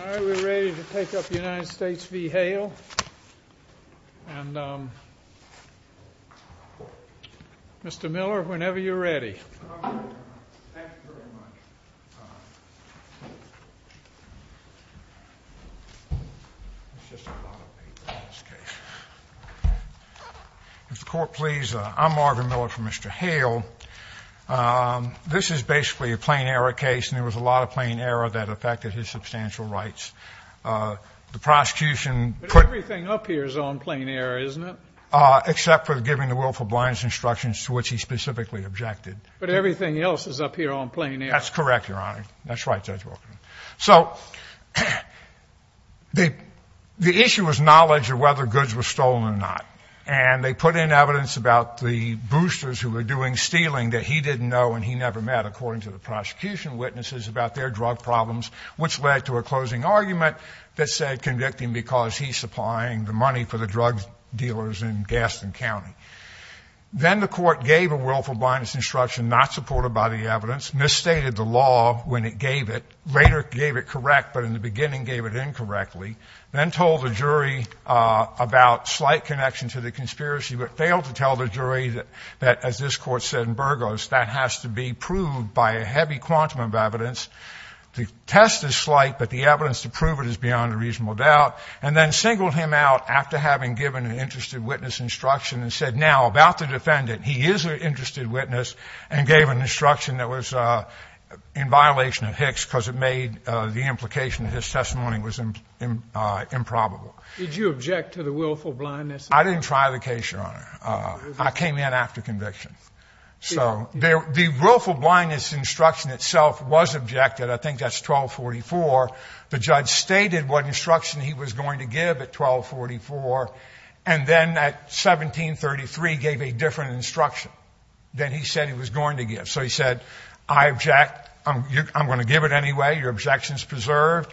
All right, we're ready to take up the United States v. Hale, and Mr. Miller, whenever you're ready. Thank you very much. If the Court please, I'm Marvin Miller for Mr. Hale. This is basically a plain error case, and there was a lot of plain error that affected his substantial rights. The prosecution put- But everything up here is on plain error, isn't it? Except for giving the willful blindness instructions to which he specifically objected. But everything else is up here on plain error. That's correct, Your Honor. That's right, Judge Wilkerson. So the issue was knowledge of whether goods were stolen or not, and they put in evidence about the boosters who were doing stealing that he didn't know and he never met, according to the prosecution witnesses, about their drug problems, which led to a closing argument that said convicting because he's supplying the money for the drug dealers in Gaston County. Then the Court gave a willful blindness instruction not supported by the evidence, misstated the law when it gave it, later gave it correct, but in the beginning gave it incorrectly, then told the jury about slight connection to the conspiracy, but failed to tell the jury that, as this Court said in Burgos, that has to be proved by a heavy quantum of evidence. The test is slight, but the evidence to prove it is beyond a reasonable doubt, and then singled him out after having given an interested witness instruction and said, now, about the defendant, he is an interested witness, and gave an instruction that was in violation of Hicks because it made the implication of his testimony was improbable. Did you object to the willful blindness? I didn't try the case, Your Honor. I came in after conviction. So the willful blindness instruction itself was objected. I think that's 1244. The judge stated what instruction he was going to give at 1244, and then at 1733 gave a different instruction than he said he was going to give. So he said, I object. I'm going to give it anyway. Your objection is preserved.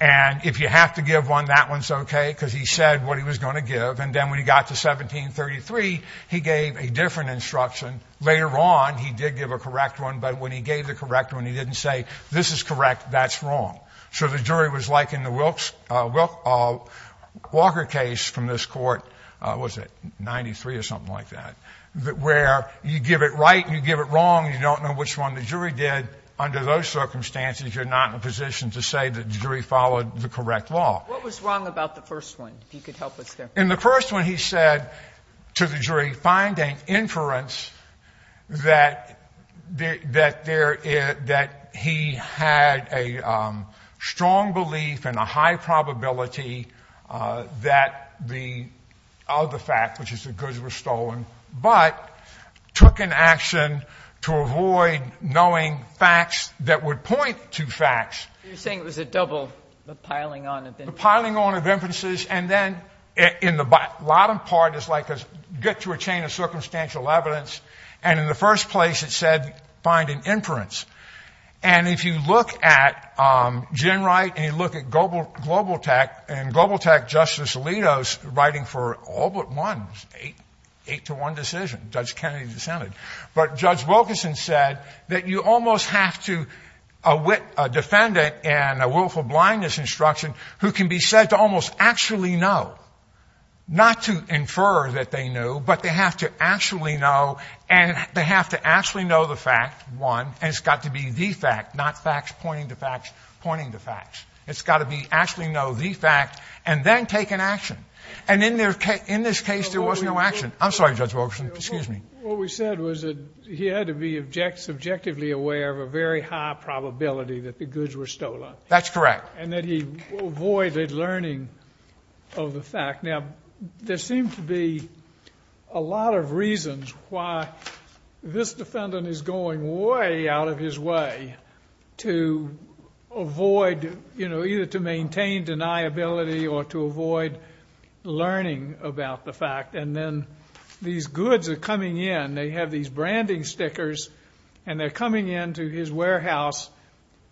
And if you have to give one, that one's okay, because he said what he was going to give. And then when he got to 1733, he gave a different instruction. Later on, he did give a correct one, but when he gave the correct one, he didn't say, this is correct, that's wrong. So the jury was like in the Walker case from this Court, was it 93 or something like that, where you give it right and you give it wrong and you don't know which one the jury did. Under those circumstances, you're not in a position to say that the jury followed the correct law. What was wrong about the first one? If you could help us there. In the first one, he said to the jury, find an inference that he had a strong belief and a high probability that the other fact, which is that goods were stolen, but took an action to avoid knowing facts that would point to facts. You're saying it was a double, the piling on of inferences. The piling on of inferences. And then in the bottom part, it's like get to a chain of circumstantial evidence. And in the first place, it said, find an inference. And if you look at Gen Wright and you look at Global Tech, and Global Tech Justice Alito's writing for all but one, eight to one decision, Judge Kennedy dissented. But Judge Wilkinson said that you almost have to, a defendant in a willful blindness instruction, who can be said to almost actually know, not to infer that they knew, but they have to actually know, and they have to actually know the fact, one, and it's got to be the fact, not facts pointing to facts pointing to facts. It's got to be actually know the fact and then take an action. And in this case, there was no action. I'm sorry, Judge Wilkinson. Excuse me. What we said was that he had to be subjectively aware of a very high probability that the goods were stolen. That's correct. And that he avoided learning of the fact. Now, there seem to be a lot of reasons why this defendant is going way out of his way to avoid, you know, either to maintain deniability or to avoid learning about the fact. And then these goods are coming in. They have these branding stickers, and they're coming into his warehouse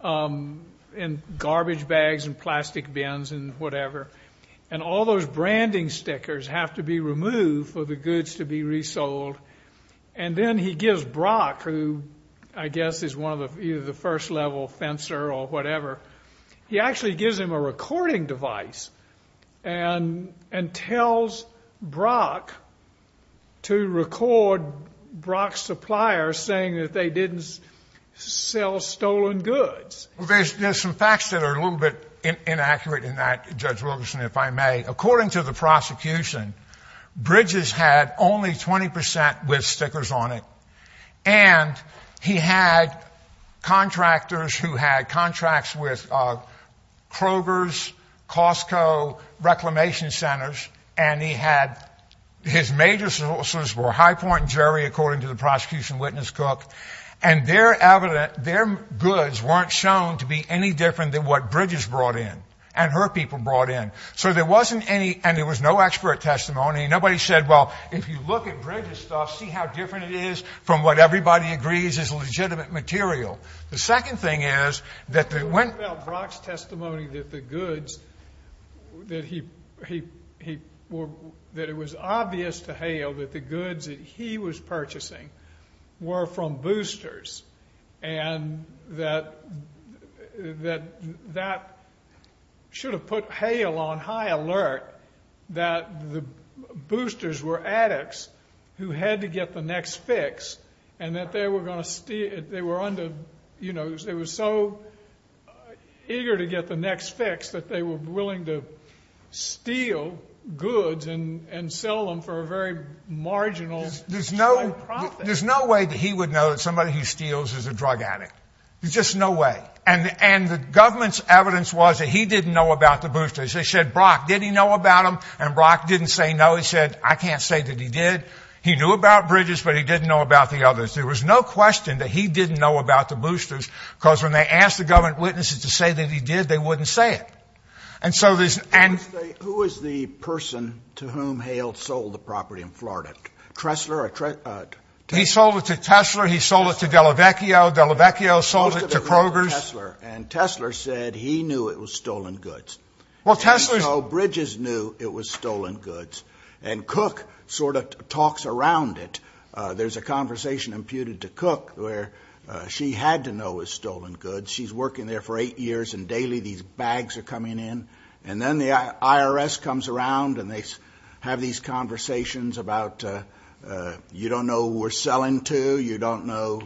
in garbage bags and plastic bins and whatever. And all those branding stickers have to be removed for the goods to be resold. And then he gives Brock, who I guess is one of the first-level fencer or whatever, he actually gives him a recording device and tells Brock to record Brock's supplier saying that they didn't sell stolen goods. There's some facts that are a little bit inaccurate in that, Judge Wilkinson, if I may. According to the prosecution, Bridges had only 20 percent with stickers on it. And he had contractors who had contracts with Kroger's, Costco, Reclamation Centers. And he had his major sources were High Point and Jerry, according to the prosecution witness, Cook. And their goods weren't shown to be any different than what Bridges brought in and her people brought in. So there wasn't any, and there was no expert testimony. Nobody said, well, if you look at Bridges' stuff, see how different it is from what everybody agrees is legitimate material. The second thing is that they went. Well, Brock's testimony that the goods that he, that it was obvious to Hale that the goods that he was purchasing were from boosters and that that should have put Hale on high alert that the boosters were addicts who had to get the next fix and that they were going to steal, they were under, you know, they were so eager to get the next fix that they were willing to steal goods and sell them for a very marginal profit. There's no way that he would know that somebody he steals is a drug addict. There's just no way. And the government's evidence was that he didn't know about the boosters. They said, Brock, did he know about them? And Brock didn't say no. He said, I can't say that he did. He knew about Bridges, but he didn't know about the others. There was no question that he didn't know about the boosters because when they asked the government witnesses to say that he did, they wouldn't say it. And so there's. And who is the person to whom Hale sold the property in Florida? Tressler. He sold it to Tessler. He sold it to Delavecchio. Delavecchio sold it to Kroger's. And Tessler said he knew it was stolen goods. Well, Tessler. Bridges knew it was stolen goods. And Cook sort of talks around it. There's a conversation imputed to Cook where she had to know it was stolen goods. She's working there for eight years, and daily these bags are coming in. And then the IRS comes around, and they have these conversations about you don't know who we're selling to. You don't know.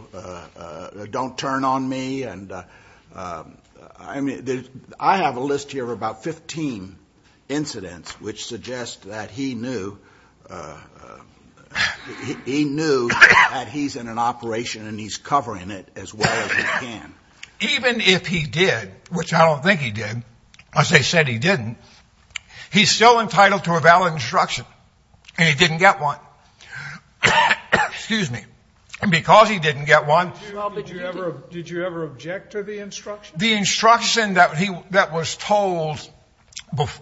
Don't turn on me. I mean, I have a list here of about 15 incidents which suggest that he knew. He knew that he's in an operation, and he's covering it as well as he can. Even if he did, which I don't think he did, as they said he didn't, he's still entitled to a valid instruction. And he didn't get one. And because he didn't get one. Did you ever object to the instruction? The instruction that was told at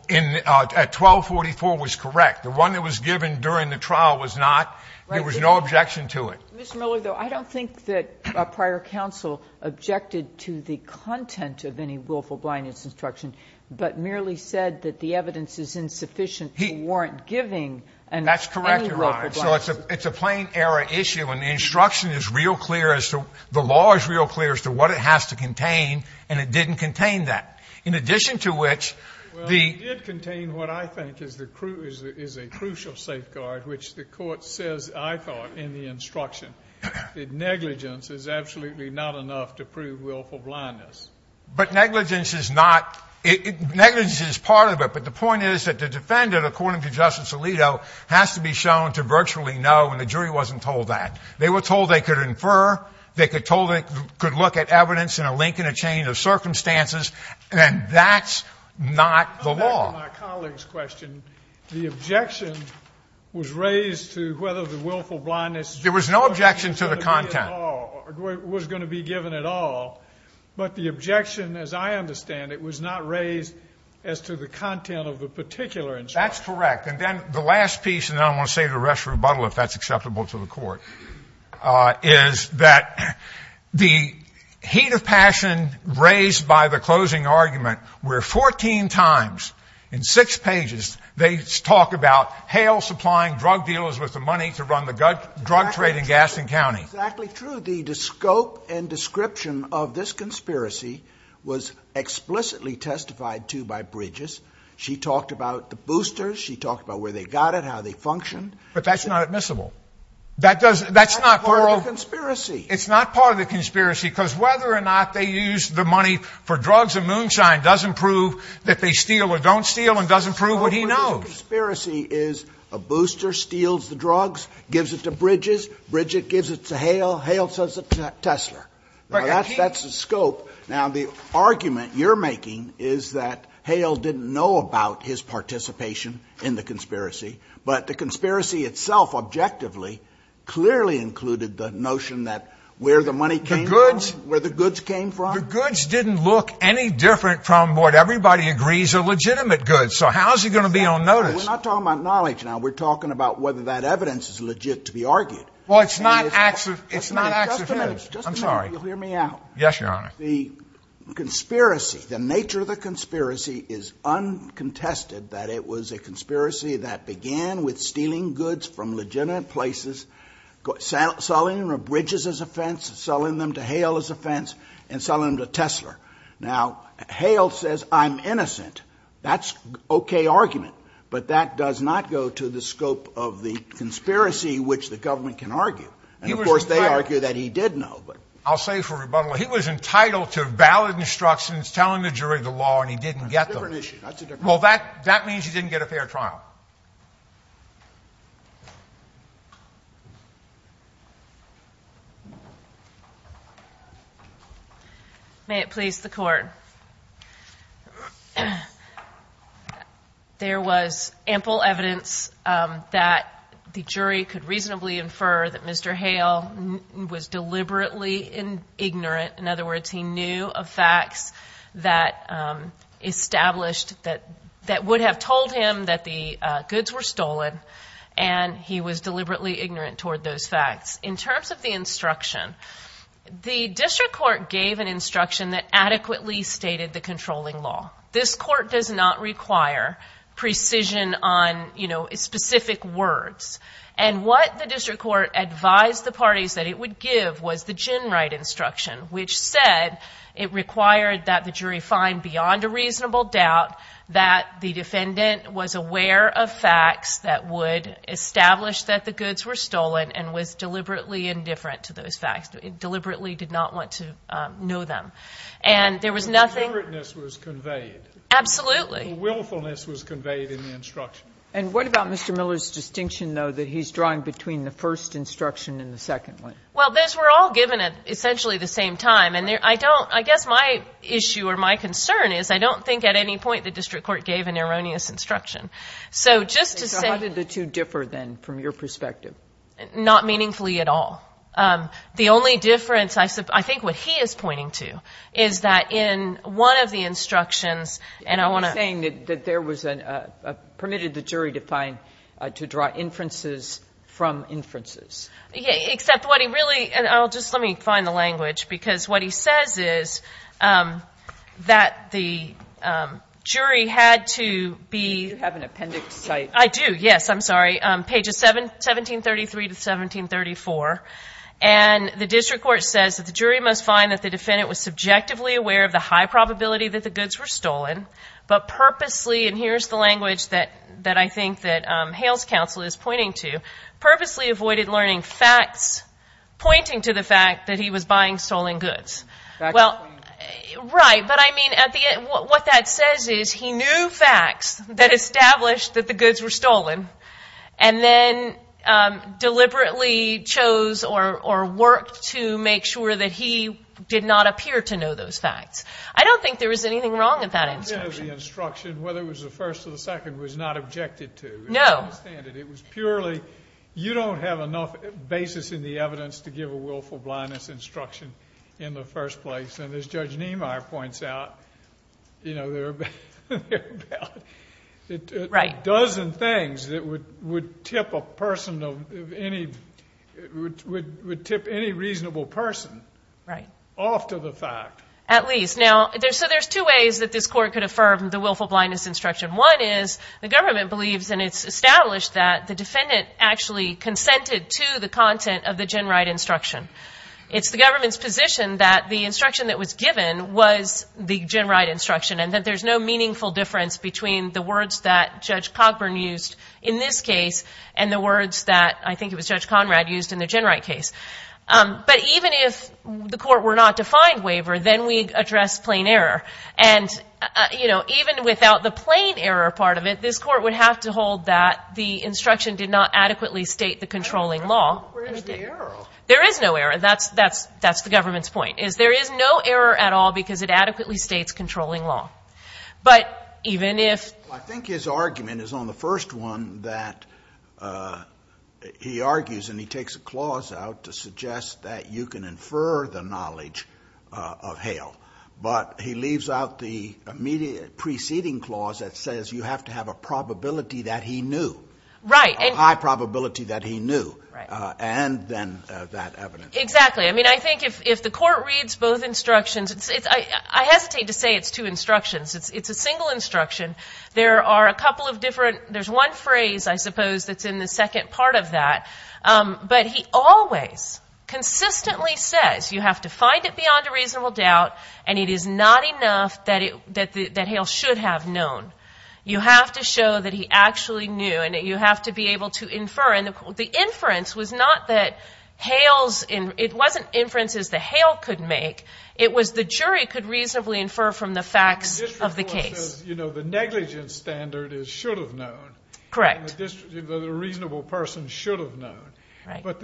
1244 was correct. The one that was given during the trial was not. There was no objection to it. Ms. Miller, though, I don't think that a prior counsel objected to the content of any willful blindness instruction, but merely said that the evidence is insufficient to warrant giving any willful blindness. That's correct, Your Honor. So it's a plain error issue, and the instruction is real clear as to, the law is real clear as to what it has to contain, and it didn't contain that. In addition to which, the- Well, it did contain what I think is a crucial safeguard, which the Court says, I thought, in the instruction, that negligence is absolutely not enough to prove willful blindness. But negligence is not, negligence is part of it, but the point is that the defendant, according to Justice Alito, has to be shown to virtually know, and the jury wasn't told that. They were told they could infer, they were told they could look at evidence in a link in a chain of circumstances, and that's not the law. Going back to my colleague's question, the objection was raised to whether the willful blindness instruction- There was no objection to the content. Was going to be given at all. But the objection, as I understand it, was not raised as to the content of the particular instruction. That's correct, and then the last piece, and then I'm going to say the rest of the rebuttal, if that's acceptable to the Court, is that the heat of passion raised by the closing argument where 14 times in 6 pages they talk about Hale supplying drug dealers with the money to run the drug trade in Gaston County. Exactly true. The scope and description of this conspiracy was explicitly testified to by Bridges. She talked about the boosters. She talked about where they got it, how they functioned. But that's not admissible. That's not part of the conspiracy. It's not part of the conspiracy, because whether or not they used the money for drugs in Moonshine doesn't prove that they steal or don't steal and doesn't prove what he knows. The scope of the conspiracy is a booster steals the drugs, gives it to Bridges, Bridget gives it to Hale, Hale sells it to Tesla. That's the scope. Now, the argument you're making is that Hale didn't know about his participation in the conspiracy, but the conspiracy itself objectively clearly included the notion that where the money came from, where the goods came from. The goods didn't look any different from what everybody agrees are legitimate goods, so how is he going to be on notice? We're not talking about knowledge now. We're talking about whether that evidence is legit to be argued. Well, it's not accessible. Just a minute. I'm sorry. You'll hear me out. Yes, Your Honor. The conspiracy, the nature of the conspiracy is uncontested that it was a conspiracy that began with stealing goods from legitimate places, selling them to Bridges as a fence, selling them to Hale as a fence, and selling them to Tesla. Now, Hale says I'm innocent. That's an okay argument, but that does not go to the scope of the conspiracy which the government can argue. And, of course, they argue that he did know. I'll say for rebuttal, he was entitled to valid instructions, telling the jury the law, and he didn't get them. That's a different issue. Well, that means he didn't get a fair trial. May it please the Court. There was ample evidence that the jury could reasonably infer that Mr. Hale was deliberately ignorant. In other words, he knew of facts that would have told him that the goods were stolen, and he was deliberately ignorant toward those facts. In terms of the instruction, the district court gave an instruction that adequately stated the controlling law. This court does not require precision on specific words. And what the district court advised the parties that it would give was the gin-right instruction, which said it required that the jury find beyond a reasonable doubt that the defendant was aware of facts that would establish that the goods were stolen and was deliberately indifferent to those facts, deliberately did not want to know them. And there was nothing. The indifferentness was conveyed. Absolutely. The willfulness was conveyed in the instruction. And what about Mr. Miller's distinction, though, that he's drawing between the first instruction and the second one? Well, those were all given at essentially the same time. And I don't – I guess my issue or my concern is I don't think at any point the district court gave an erroneous instruction. So just to say – So how did the two differ, then, from your perspective? Not meaningfully at all. The only difference I think what he is pointing to is that in one of the instructions and I want to – You're saying that there was a – permitted the jury to find – to draw inferences from inferences. Except what he really – and I'll just – let me find the language. Because what he says is that the jury had to be – Do you have an appendix? I do, yes. I'm sorry. Pages 1733 to 1734. And the district court says that the jury must find that the defendant was subjectively aware of the high probability that the goods were stolen, but purposely – and here's the language that I think that Hale's counsel is pointing to – purposely avoided learning facts pointing to the fact that he was buying stolen goods. Facts. Well, right. But I mean at the – what that says is he knew facts that established that the goods were stolen and then deliberately chose or worked to make sure that he did not appear to know those facts. I don't think there was anything wrong with that instruction. I don't think the instruction, whether it was the first or the second, was not objected to. No. It was purely – you don't have enough basis in the evidence to give a willful blindness instruction in the first place. And as Judge Niemeyer points out, you know, there are about a dozen things that would tip a person of any – would tip any reasonable person off to the fact. Right. At least. Now, so there's two ways that this court could affirm the willful blindness instruction. One is the government believes and it's established that the defendant actually consented to the content of the Genride instruction. It's the government's position that the instruction that was given was the Genride instruction and that there's no meaningful difference between the words that Judge Cogburn used in this case and the words that I think it was Judge Conrad used in the Genride case. But even if the court were not to find waiver, then we address plain error. And, you know, even without the plain error part of it, this court would have to hold that the instruction did not adequately state the controlling law. Where's the error? There is no error. That's the government's point, is there is no error at all because it adequately states controlling law. But even if – Well, I think his argument is on the first one that he argues and he takes a clause out to suggest that you can infer the knowledge of Hale. But he leaves out the preceding clause that says you have to have a probability that he knew. Right. A high probability that he knew. Right. And then that evidence. Exactly. I mean, I think if the court reads both instructions, I hesitate to say it's two instructions. It's a single instruction. There are a couple of different – there's one phrase, I suppose, that's in the second part of that. But he always consistently says you have to find it beyond a reasonable doubt and it is not enough that Hale should have known. You have to show that he actually knew and that you have to be able to infer. And the inference was not that Hale's – it wasn't inferences that Hale could make. It was the jury could reasonably infer from the facts of the case. The district court says, you know, the negligence standard is should have known. Correct. And the reasonable person should have known. Right. But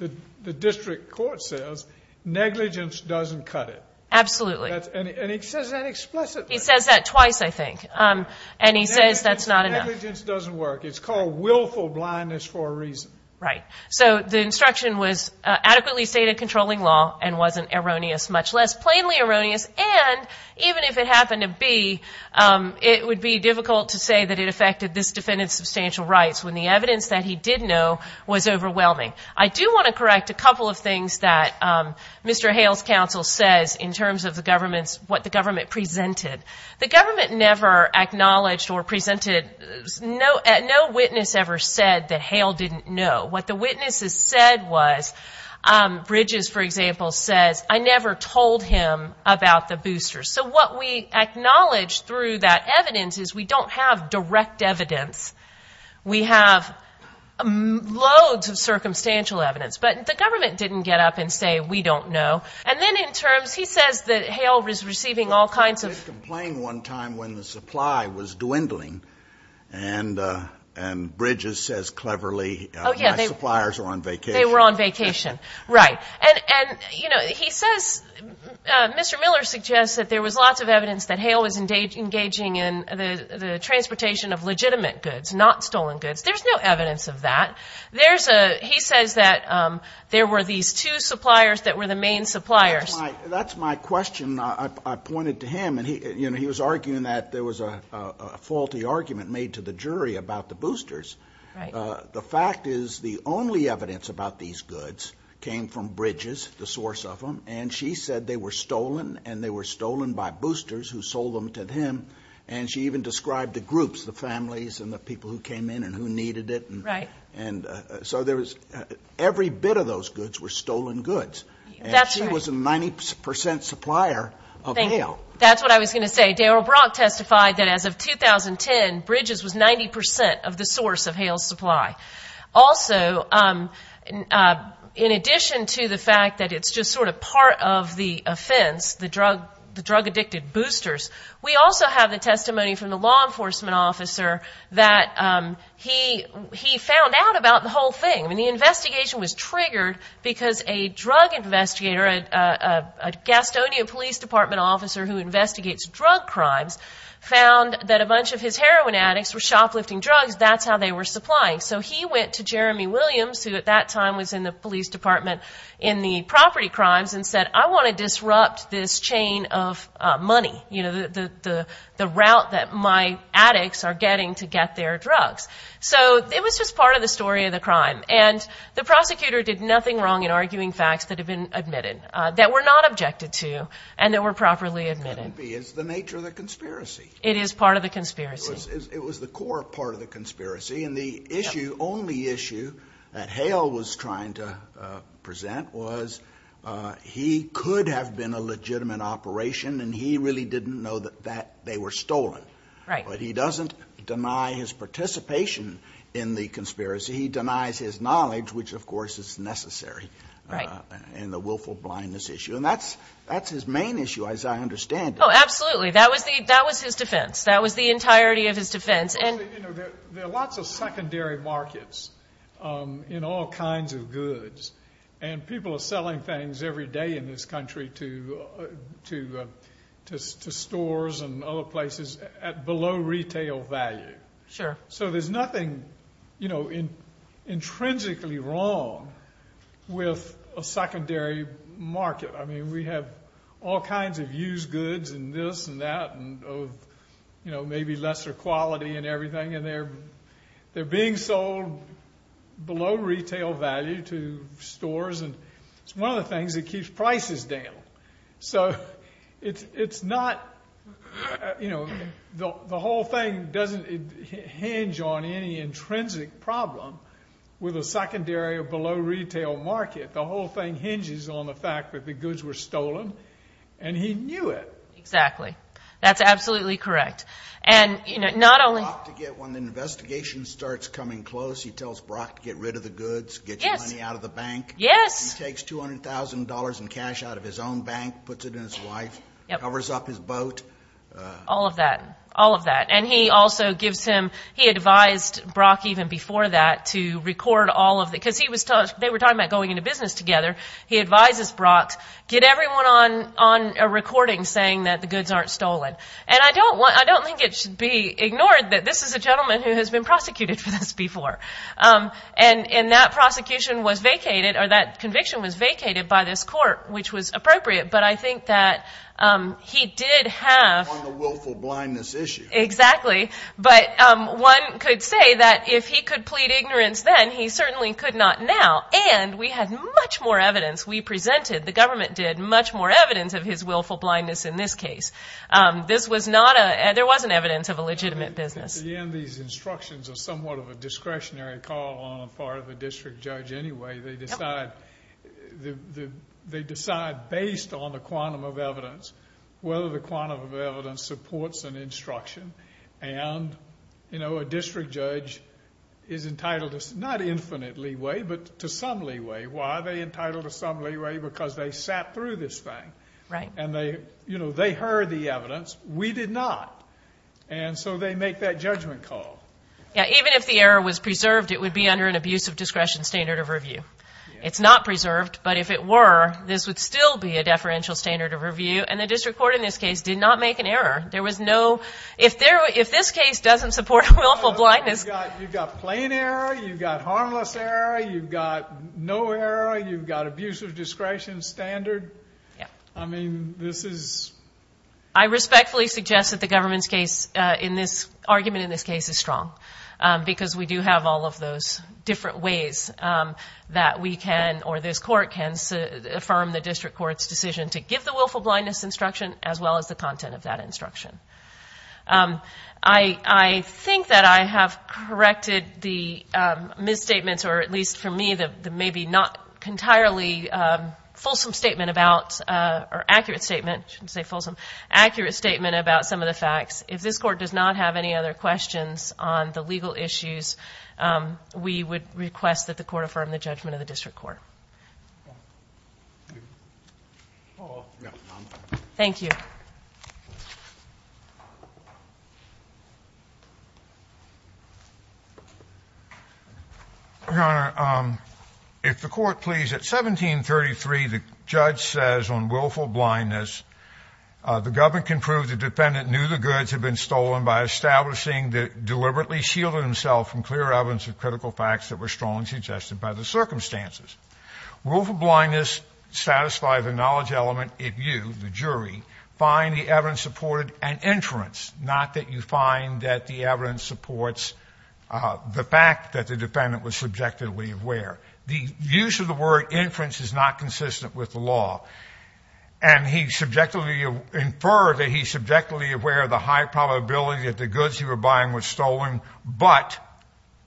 the district court says negligence doesn't cut it. Absolutely. And he says that explicitly. He says that twice, I think. And he says that's not enough. Negligence doesn't work. It's called willful blindness for a reason. Right. So the instruction was adequately stated controlling law and wasn't erroneous, much less plainly erroneous. And even if it happened to be, it would be difficult to say that it affected this defendant's substantial rights when the evidence that he did know was overwhelming. I do want to correct a couple of things that Mr. Hale's counsel says in terms of the government's – what the government presented. The government never acknowledged or presented – no witness ever said that Hale didn't know. What the witnesses said was – Bridges, for example, says, I never told him about the boosters. So what we acknowledge through that evidence is we don't have direct evidence. We have loads of circumstantial evidence. But the government didn't get up and say, we don't know. And then in terms – he says that Hale was receiving all kinds of – And Bridges says cleverly, my suppliers were on vacation. They were on vacation. Right. And, you know, he says – Mr. Miller suggests that there was lots of evidence that Hale was engaging in the transportation of legitimate goods, not stolen goods. There's no evidence of that. There's a – he says that there were these two suppliers that were the main suppliers. That's my question. I pointed to him. And, you know, he was arguing that there was a faulty argument made to the jury about the boosters. Right. The fact is the only evidence about these goods came from Bridges, the source of them, and she said they were stolen and they were stolen by boosters who sold them to him. And she even described the groups, the families and the people who came in and who needed it. Right. And so there was – every bit of those goods were stolen goods. That's right. And she was a 90 percent supplier of Hale. That's what I was going to say. Daryl Brock testified that as of 2010, Bridges was 90 percent of the source of Hale's supply. Also, in addition to the fact that it's just sort of part of the offense, the drug-addicted boosters, we also have the testimony from the law enforcement officer that he found out about the whole thing. I mean, the investigation was triggered because a drug investigator, a Gastonia Police Department officer who investigates drug crimes, found that a bunch of his heroin addicts were shoplifting drugs. That's how they were supplying. So he went to Jeremy Williams, who at that time was in the police department in the property crimes, and said, I want to disrupt this chain of money, you know, the route that my addicts are getting to get their drugs. So it was just part of the story of the crime. And the prosecutor did nothing wrong in arguing facts that had been admitted, that were not properly admitted. It couldn't be. It's the nature of the conspiracy. It is part of the conspiracy. It was the core part of the conspiracy. And the issue, only issue, that Hale was trying to present was he could have been a legitimate operation, and he really didn't know that they were stolen. Right. But he doesn't deny his participation in the conspiracy. He denies his knowledge, which, of course, is necessary in the willful blindness issue. And that's his main issue, as I understand it. Oh, absolutely. That was his defense. That was the entirety of his defense. You know, there are lots of secondary markets in all kinds of goods. And people are selling things every day in this country to stores and other places at below retail value. Sure. So there's nothing, you know, intrinsically wrong with a secondary market. I mean, we have all kinds of used goods and this and that, and, you know, maybe lesser quality and everything. And they're being sold below retail value to stores. And it's one of the things that keeps prices down. So it's not, you know, the whole thing doesn't hinge on any intrinsic problem with a secondary or below retail market. The whole thing hinges on the fact that the goods were stolen, and he knew it. Exactly. That's absolutely correct. And, you know, not only... When the investigation starts coming close, he tells Brock to get rid of the goods, get your money out of the bank. Yes. Yes. He takes $200,000 in cash out of his own bank, puts it in his wife, covers up his boat. All of that. All of that. And he also gives him... He advised Brock even before that to record all of the... Because they were talking about going into business together. He advises Brock, get everyone on a recording saying that the goods aren't stolen. And I don't think it should be ignored that this is a gentleman who has been prosecuted for this before. And that prosecution was vacated, or that conviction was vacated by this court, which was appropriate. But I think that he did have... On the willful blindness issue. Exactly. But one could say that if he could plead ignorance then, he certainly could not now. And we had much more evidence. We presented, the government did, much more evidence of his willful blindness in this case. This was not a... There wasn't evidence of a legitimate business. At the end, these instructions are somewhat of a discretionary call on the part of a district judge anyway. They decide based on the quantum of evidence whether the quantum of evidence supports an instruction. And a district judge is entitled to not infinite leeway, but to some leeway. Why are they entitled to some leeway? Because they sat through this thing. Right. And they heard the evidence. We did not. And so they make that judgment call. Yeah. Even if the error was preserved, it would be under an abusive discretion standard of review. It's not preserved, but if it were, this would still be a deferential standard of review. And the district court in this case did not make an error. There was no... If this case doesn't support willful blindness... You've got plain error, you've got harmless error, you've got no error, you've got abusive discretion standard. Yeah. I mean, this is... I respectfully suggest that the government's argument in this case is strong. Because we do have all of those different ways that we can, or this court can, affirm the district court's decision to give the willful blindness instruction as well as the content of that instruction. I think that I have corrected the misstatements, or at least for me, the maybe not entirely fulsome statement about... Or accurate statement. I shouldn't say fulsome. Accurate statement about some of the facts. If this court does not have any other questions on the legal issues, we would request that the court affirm the judgment of the district court. Paul. Yeah. Thank you. Your Honor, if the court please, at 1733, the judge says on willful blindness, the government can prove the defendant knew the goods had been stolen by establishing that deliberately shielded himself from clear evidence of critical facts that were strongly suggested by the circumstances. Willful blindness satisfies the knowledge element if you, the jury, find the evidence supported and inference, not that you find that the evidence supports the fact that the defendant was subjectively aware. The use of the word inference is not consistent with the law. And he subjectively inferred that he's subjectively aware of the high probability that the goods he was buying were stolen, but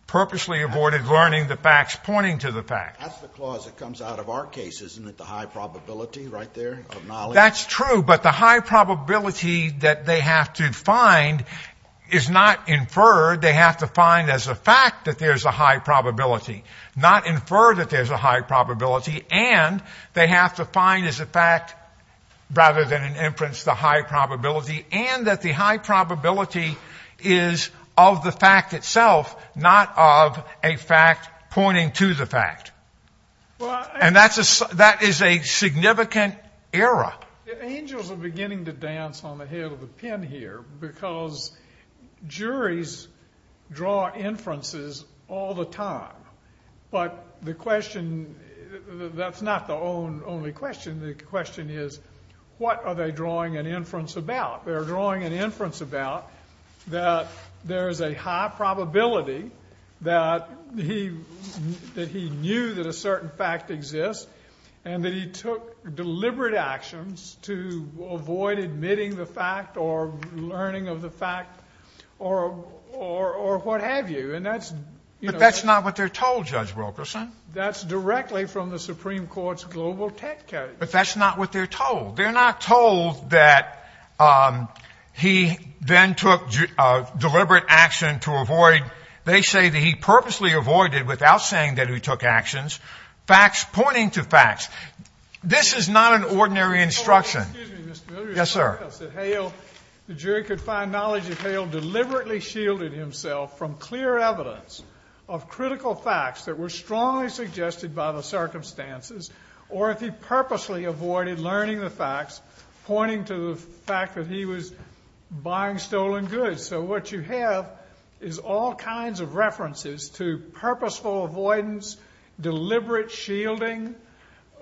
purposely avoided learning the facts pointing to the facts. That's the clause that comes out of our case, isn't it? The high probability right there of knowledge. That's true. But the high probability that they have to find is not inferred. They have to find as a fact that there's a high probability, not infer that there's a high probability. And they have to find as a fact rather than an inference, the high probability and that the high probability is of the fact itself, not of a fact pointing to the fact. And that is a significant error. Angels are beginning to dance on the head of the pen here because juries draw inferences all the time. But the question, that's not the only question. The question is, what are they drawing an inference about? They're drawing an inference about that there's a high probability that he knew that a certain fact exists and that he took deliberate actions to avoid admitting the fact or learning of the fact or what have you. But that's not what they're told, Judge Wilkerson. That's directly from the Supreme Court's global tech case. But that's not what they're told. They're not told that he then took deliberate action to avoid. They say that he purposely avoided without saying that he took actions, facts pointing to facts. This is not an ordinary instruction. Yes, sir. The jury could find knowledge that Hale deliberately shielded himself from clear evidence of critical facts that were strongly suggested by the circumstances or if he purposely avoided learning the facts pointing to the fact that he was buying stolen goods. So what you have is all kinds of references to purposeful avoidance, deliberate shielding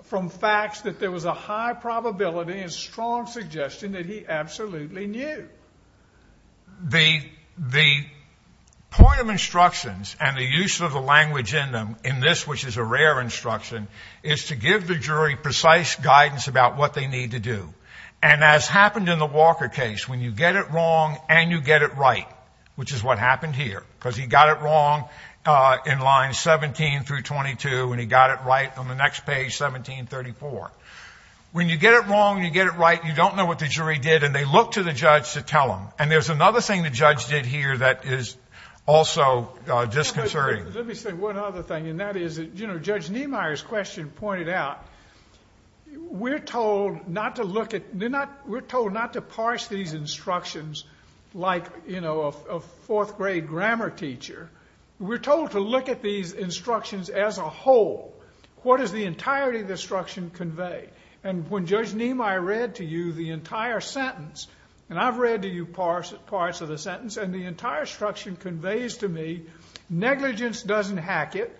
from facts that there was a high probability and strong suggestion that he absolutely knew. The point of instructions and the use of the language in them in this, which is a rare instruction, is to give the jury precise guidance about what they need to do. And as happened in the Walker case, when you get it wrong and you get it right, which is what happened here, because he got it wrong in lines 17 through 22, and he got it right on the next page, 1734. When you get it wrong and you get it right, you don't know what the jury did, and they look to the judge to tell them. And there's another thing the judge did here that is also disconcerting. Let me say one other thing, and that is that Judge Niemeyer's question pointed out we're told not to parse these instructions like a fourth-grade grammar teacher. We're told to look at these instructions as a whole. What does the entirety of the instruction convey? And when Judge Niemeyer read to you the entire sentence, and I've read to you parts of the sentence, and the entire instruction conveys to me negligence doesn't hack it.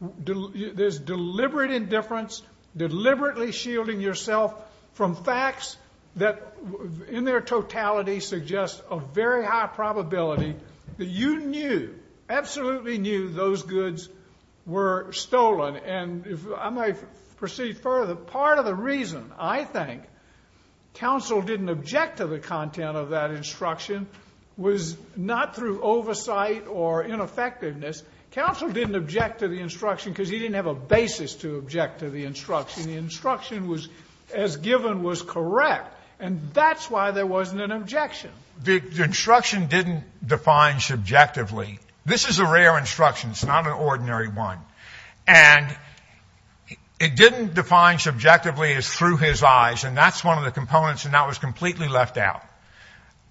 There's deliberate indifference, deliberately shielding yourself from facts that in their totality suggest a very high probability that you knew, absolutely knew, those goods were stolen. And I might proceed further. The part of the reason I think counsel didn't object to the content of that instruction was not through oversight or ineffectiveness. Counsel didn't object to the instruction because he didn't have a basis to object to the instruction. The instruction as given was correct, and that's why there wasn't an objection. The instruction didn't define subjectively. This is a rare instruction. It's not an ordinary one. And it didn't define subjectively as through his eyes, and that's one of the components, and that was completely left out.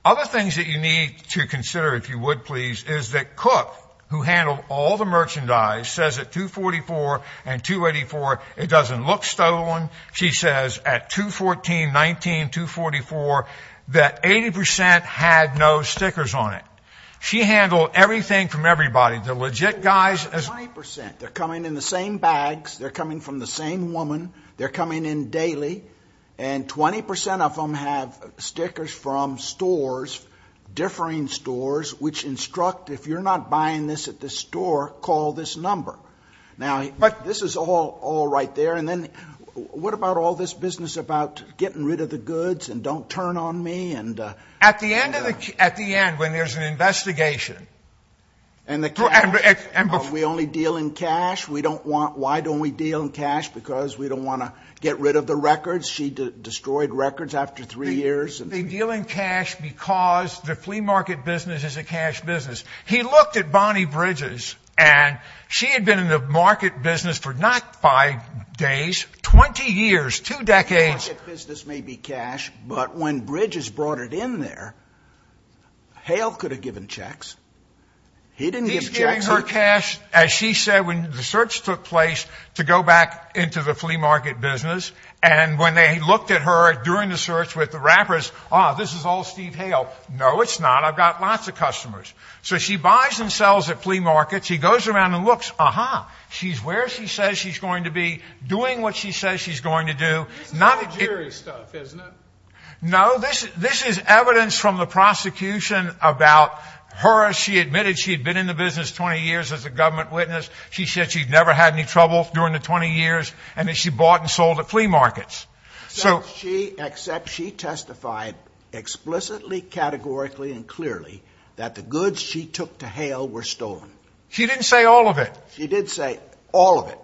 Other things that you need to consider, if you would please, is that Cook, who handled all the merchandise, says at 244 and 284 it doesn't look stolen. She says at 214, 19, 244 that 80% had no stickers on it. She handled everything from everybody. The legit guys. 20%. They're coming in the same bags. They're coming from the same woman. They're coming in daily, and 20% of them have stickers from stores, differing stores, which instruct if you're not buying this at this store, call this number. But this is all right there. And then what about all this business about getting rid of the goods and don't turn on me? At the end, when there's an investigation. We only deal in cash. Why don't we deal in cash? Because we don't want to get rid of the records. She destroyed records after three years. They deal in cash because the flea market business is a cash business. He looked at Bonnie Bridges, and she had been in the market business for not five days, 20 years, two decades. The flea market business may be cash, but when Bridges brought it in there, Hale could have given checks. He didn't give checks. He's giving her cash, as she said, when the search took place to go back into the flea market business. And when they looked at her during the search with the wrappers, ah, this is all Steve Hale. No, it's not. I've got lots of customers. So she buys and sells at flea markets. She goes around and looks. Uh-huh. She's where she says she's going to be, doing what she says she's going to do. This is all jury stuff, isn't it? No, this is evidence from the prosecution about her. She admitted she had been in the business 20 years as a government witness. She said she'd never had any trouble during the 20 years, and that she bought and sold at flea markets. Except she testified explicitly, categorically, and clearly that the goods she took to Hale were stolen. She didn't say all of it. She did say all of it.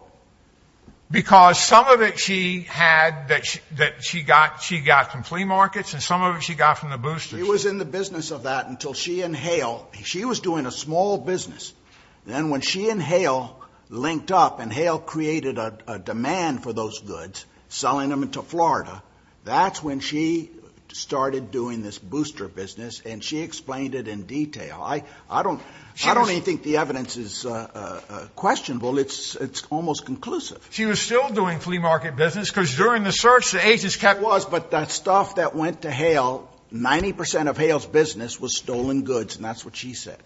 Because some of it she had that she got from flea markets, and some of it she got from the boosters. She was in the business of that until she and Hale, she was doing a small business. Then when she and Hale linked up and Hale created a demand for those goods, selling them to Florida, that's when she started doing this booster business, and she explained it in detail. I don't even think the evidence is questionable. It's almost conclusive. She was still doing flea market business because during the search, the agents kept It was, but that stuff that went to Hale, 90 percent of Hale's business was stolen goods, and that's what she said.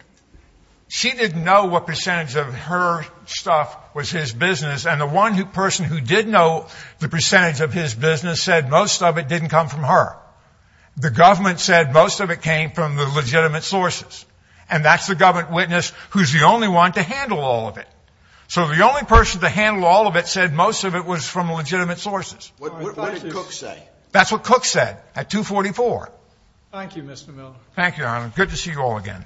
She didn't know what percentage of her stuff was his business, and the one person who did know the percentage of his business said most of it didn't come from her. The government said most of it came from the legitimate sources, and that's the government witness who's the only one to handle all of it. So the only person to handle all of it said most of it was from legitimate sources. What did Cook say? That's what Cook said at 244. Thank you, Mr. Miller. Thank you, Your Honor. Good to see you all again.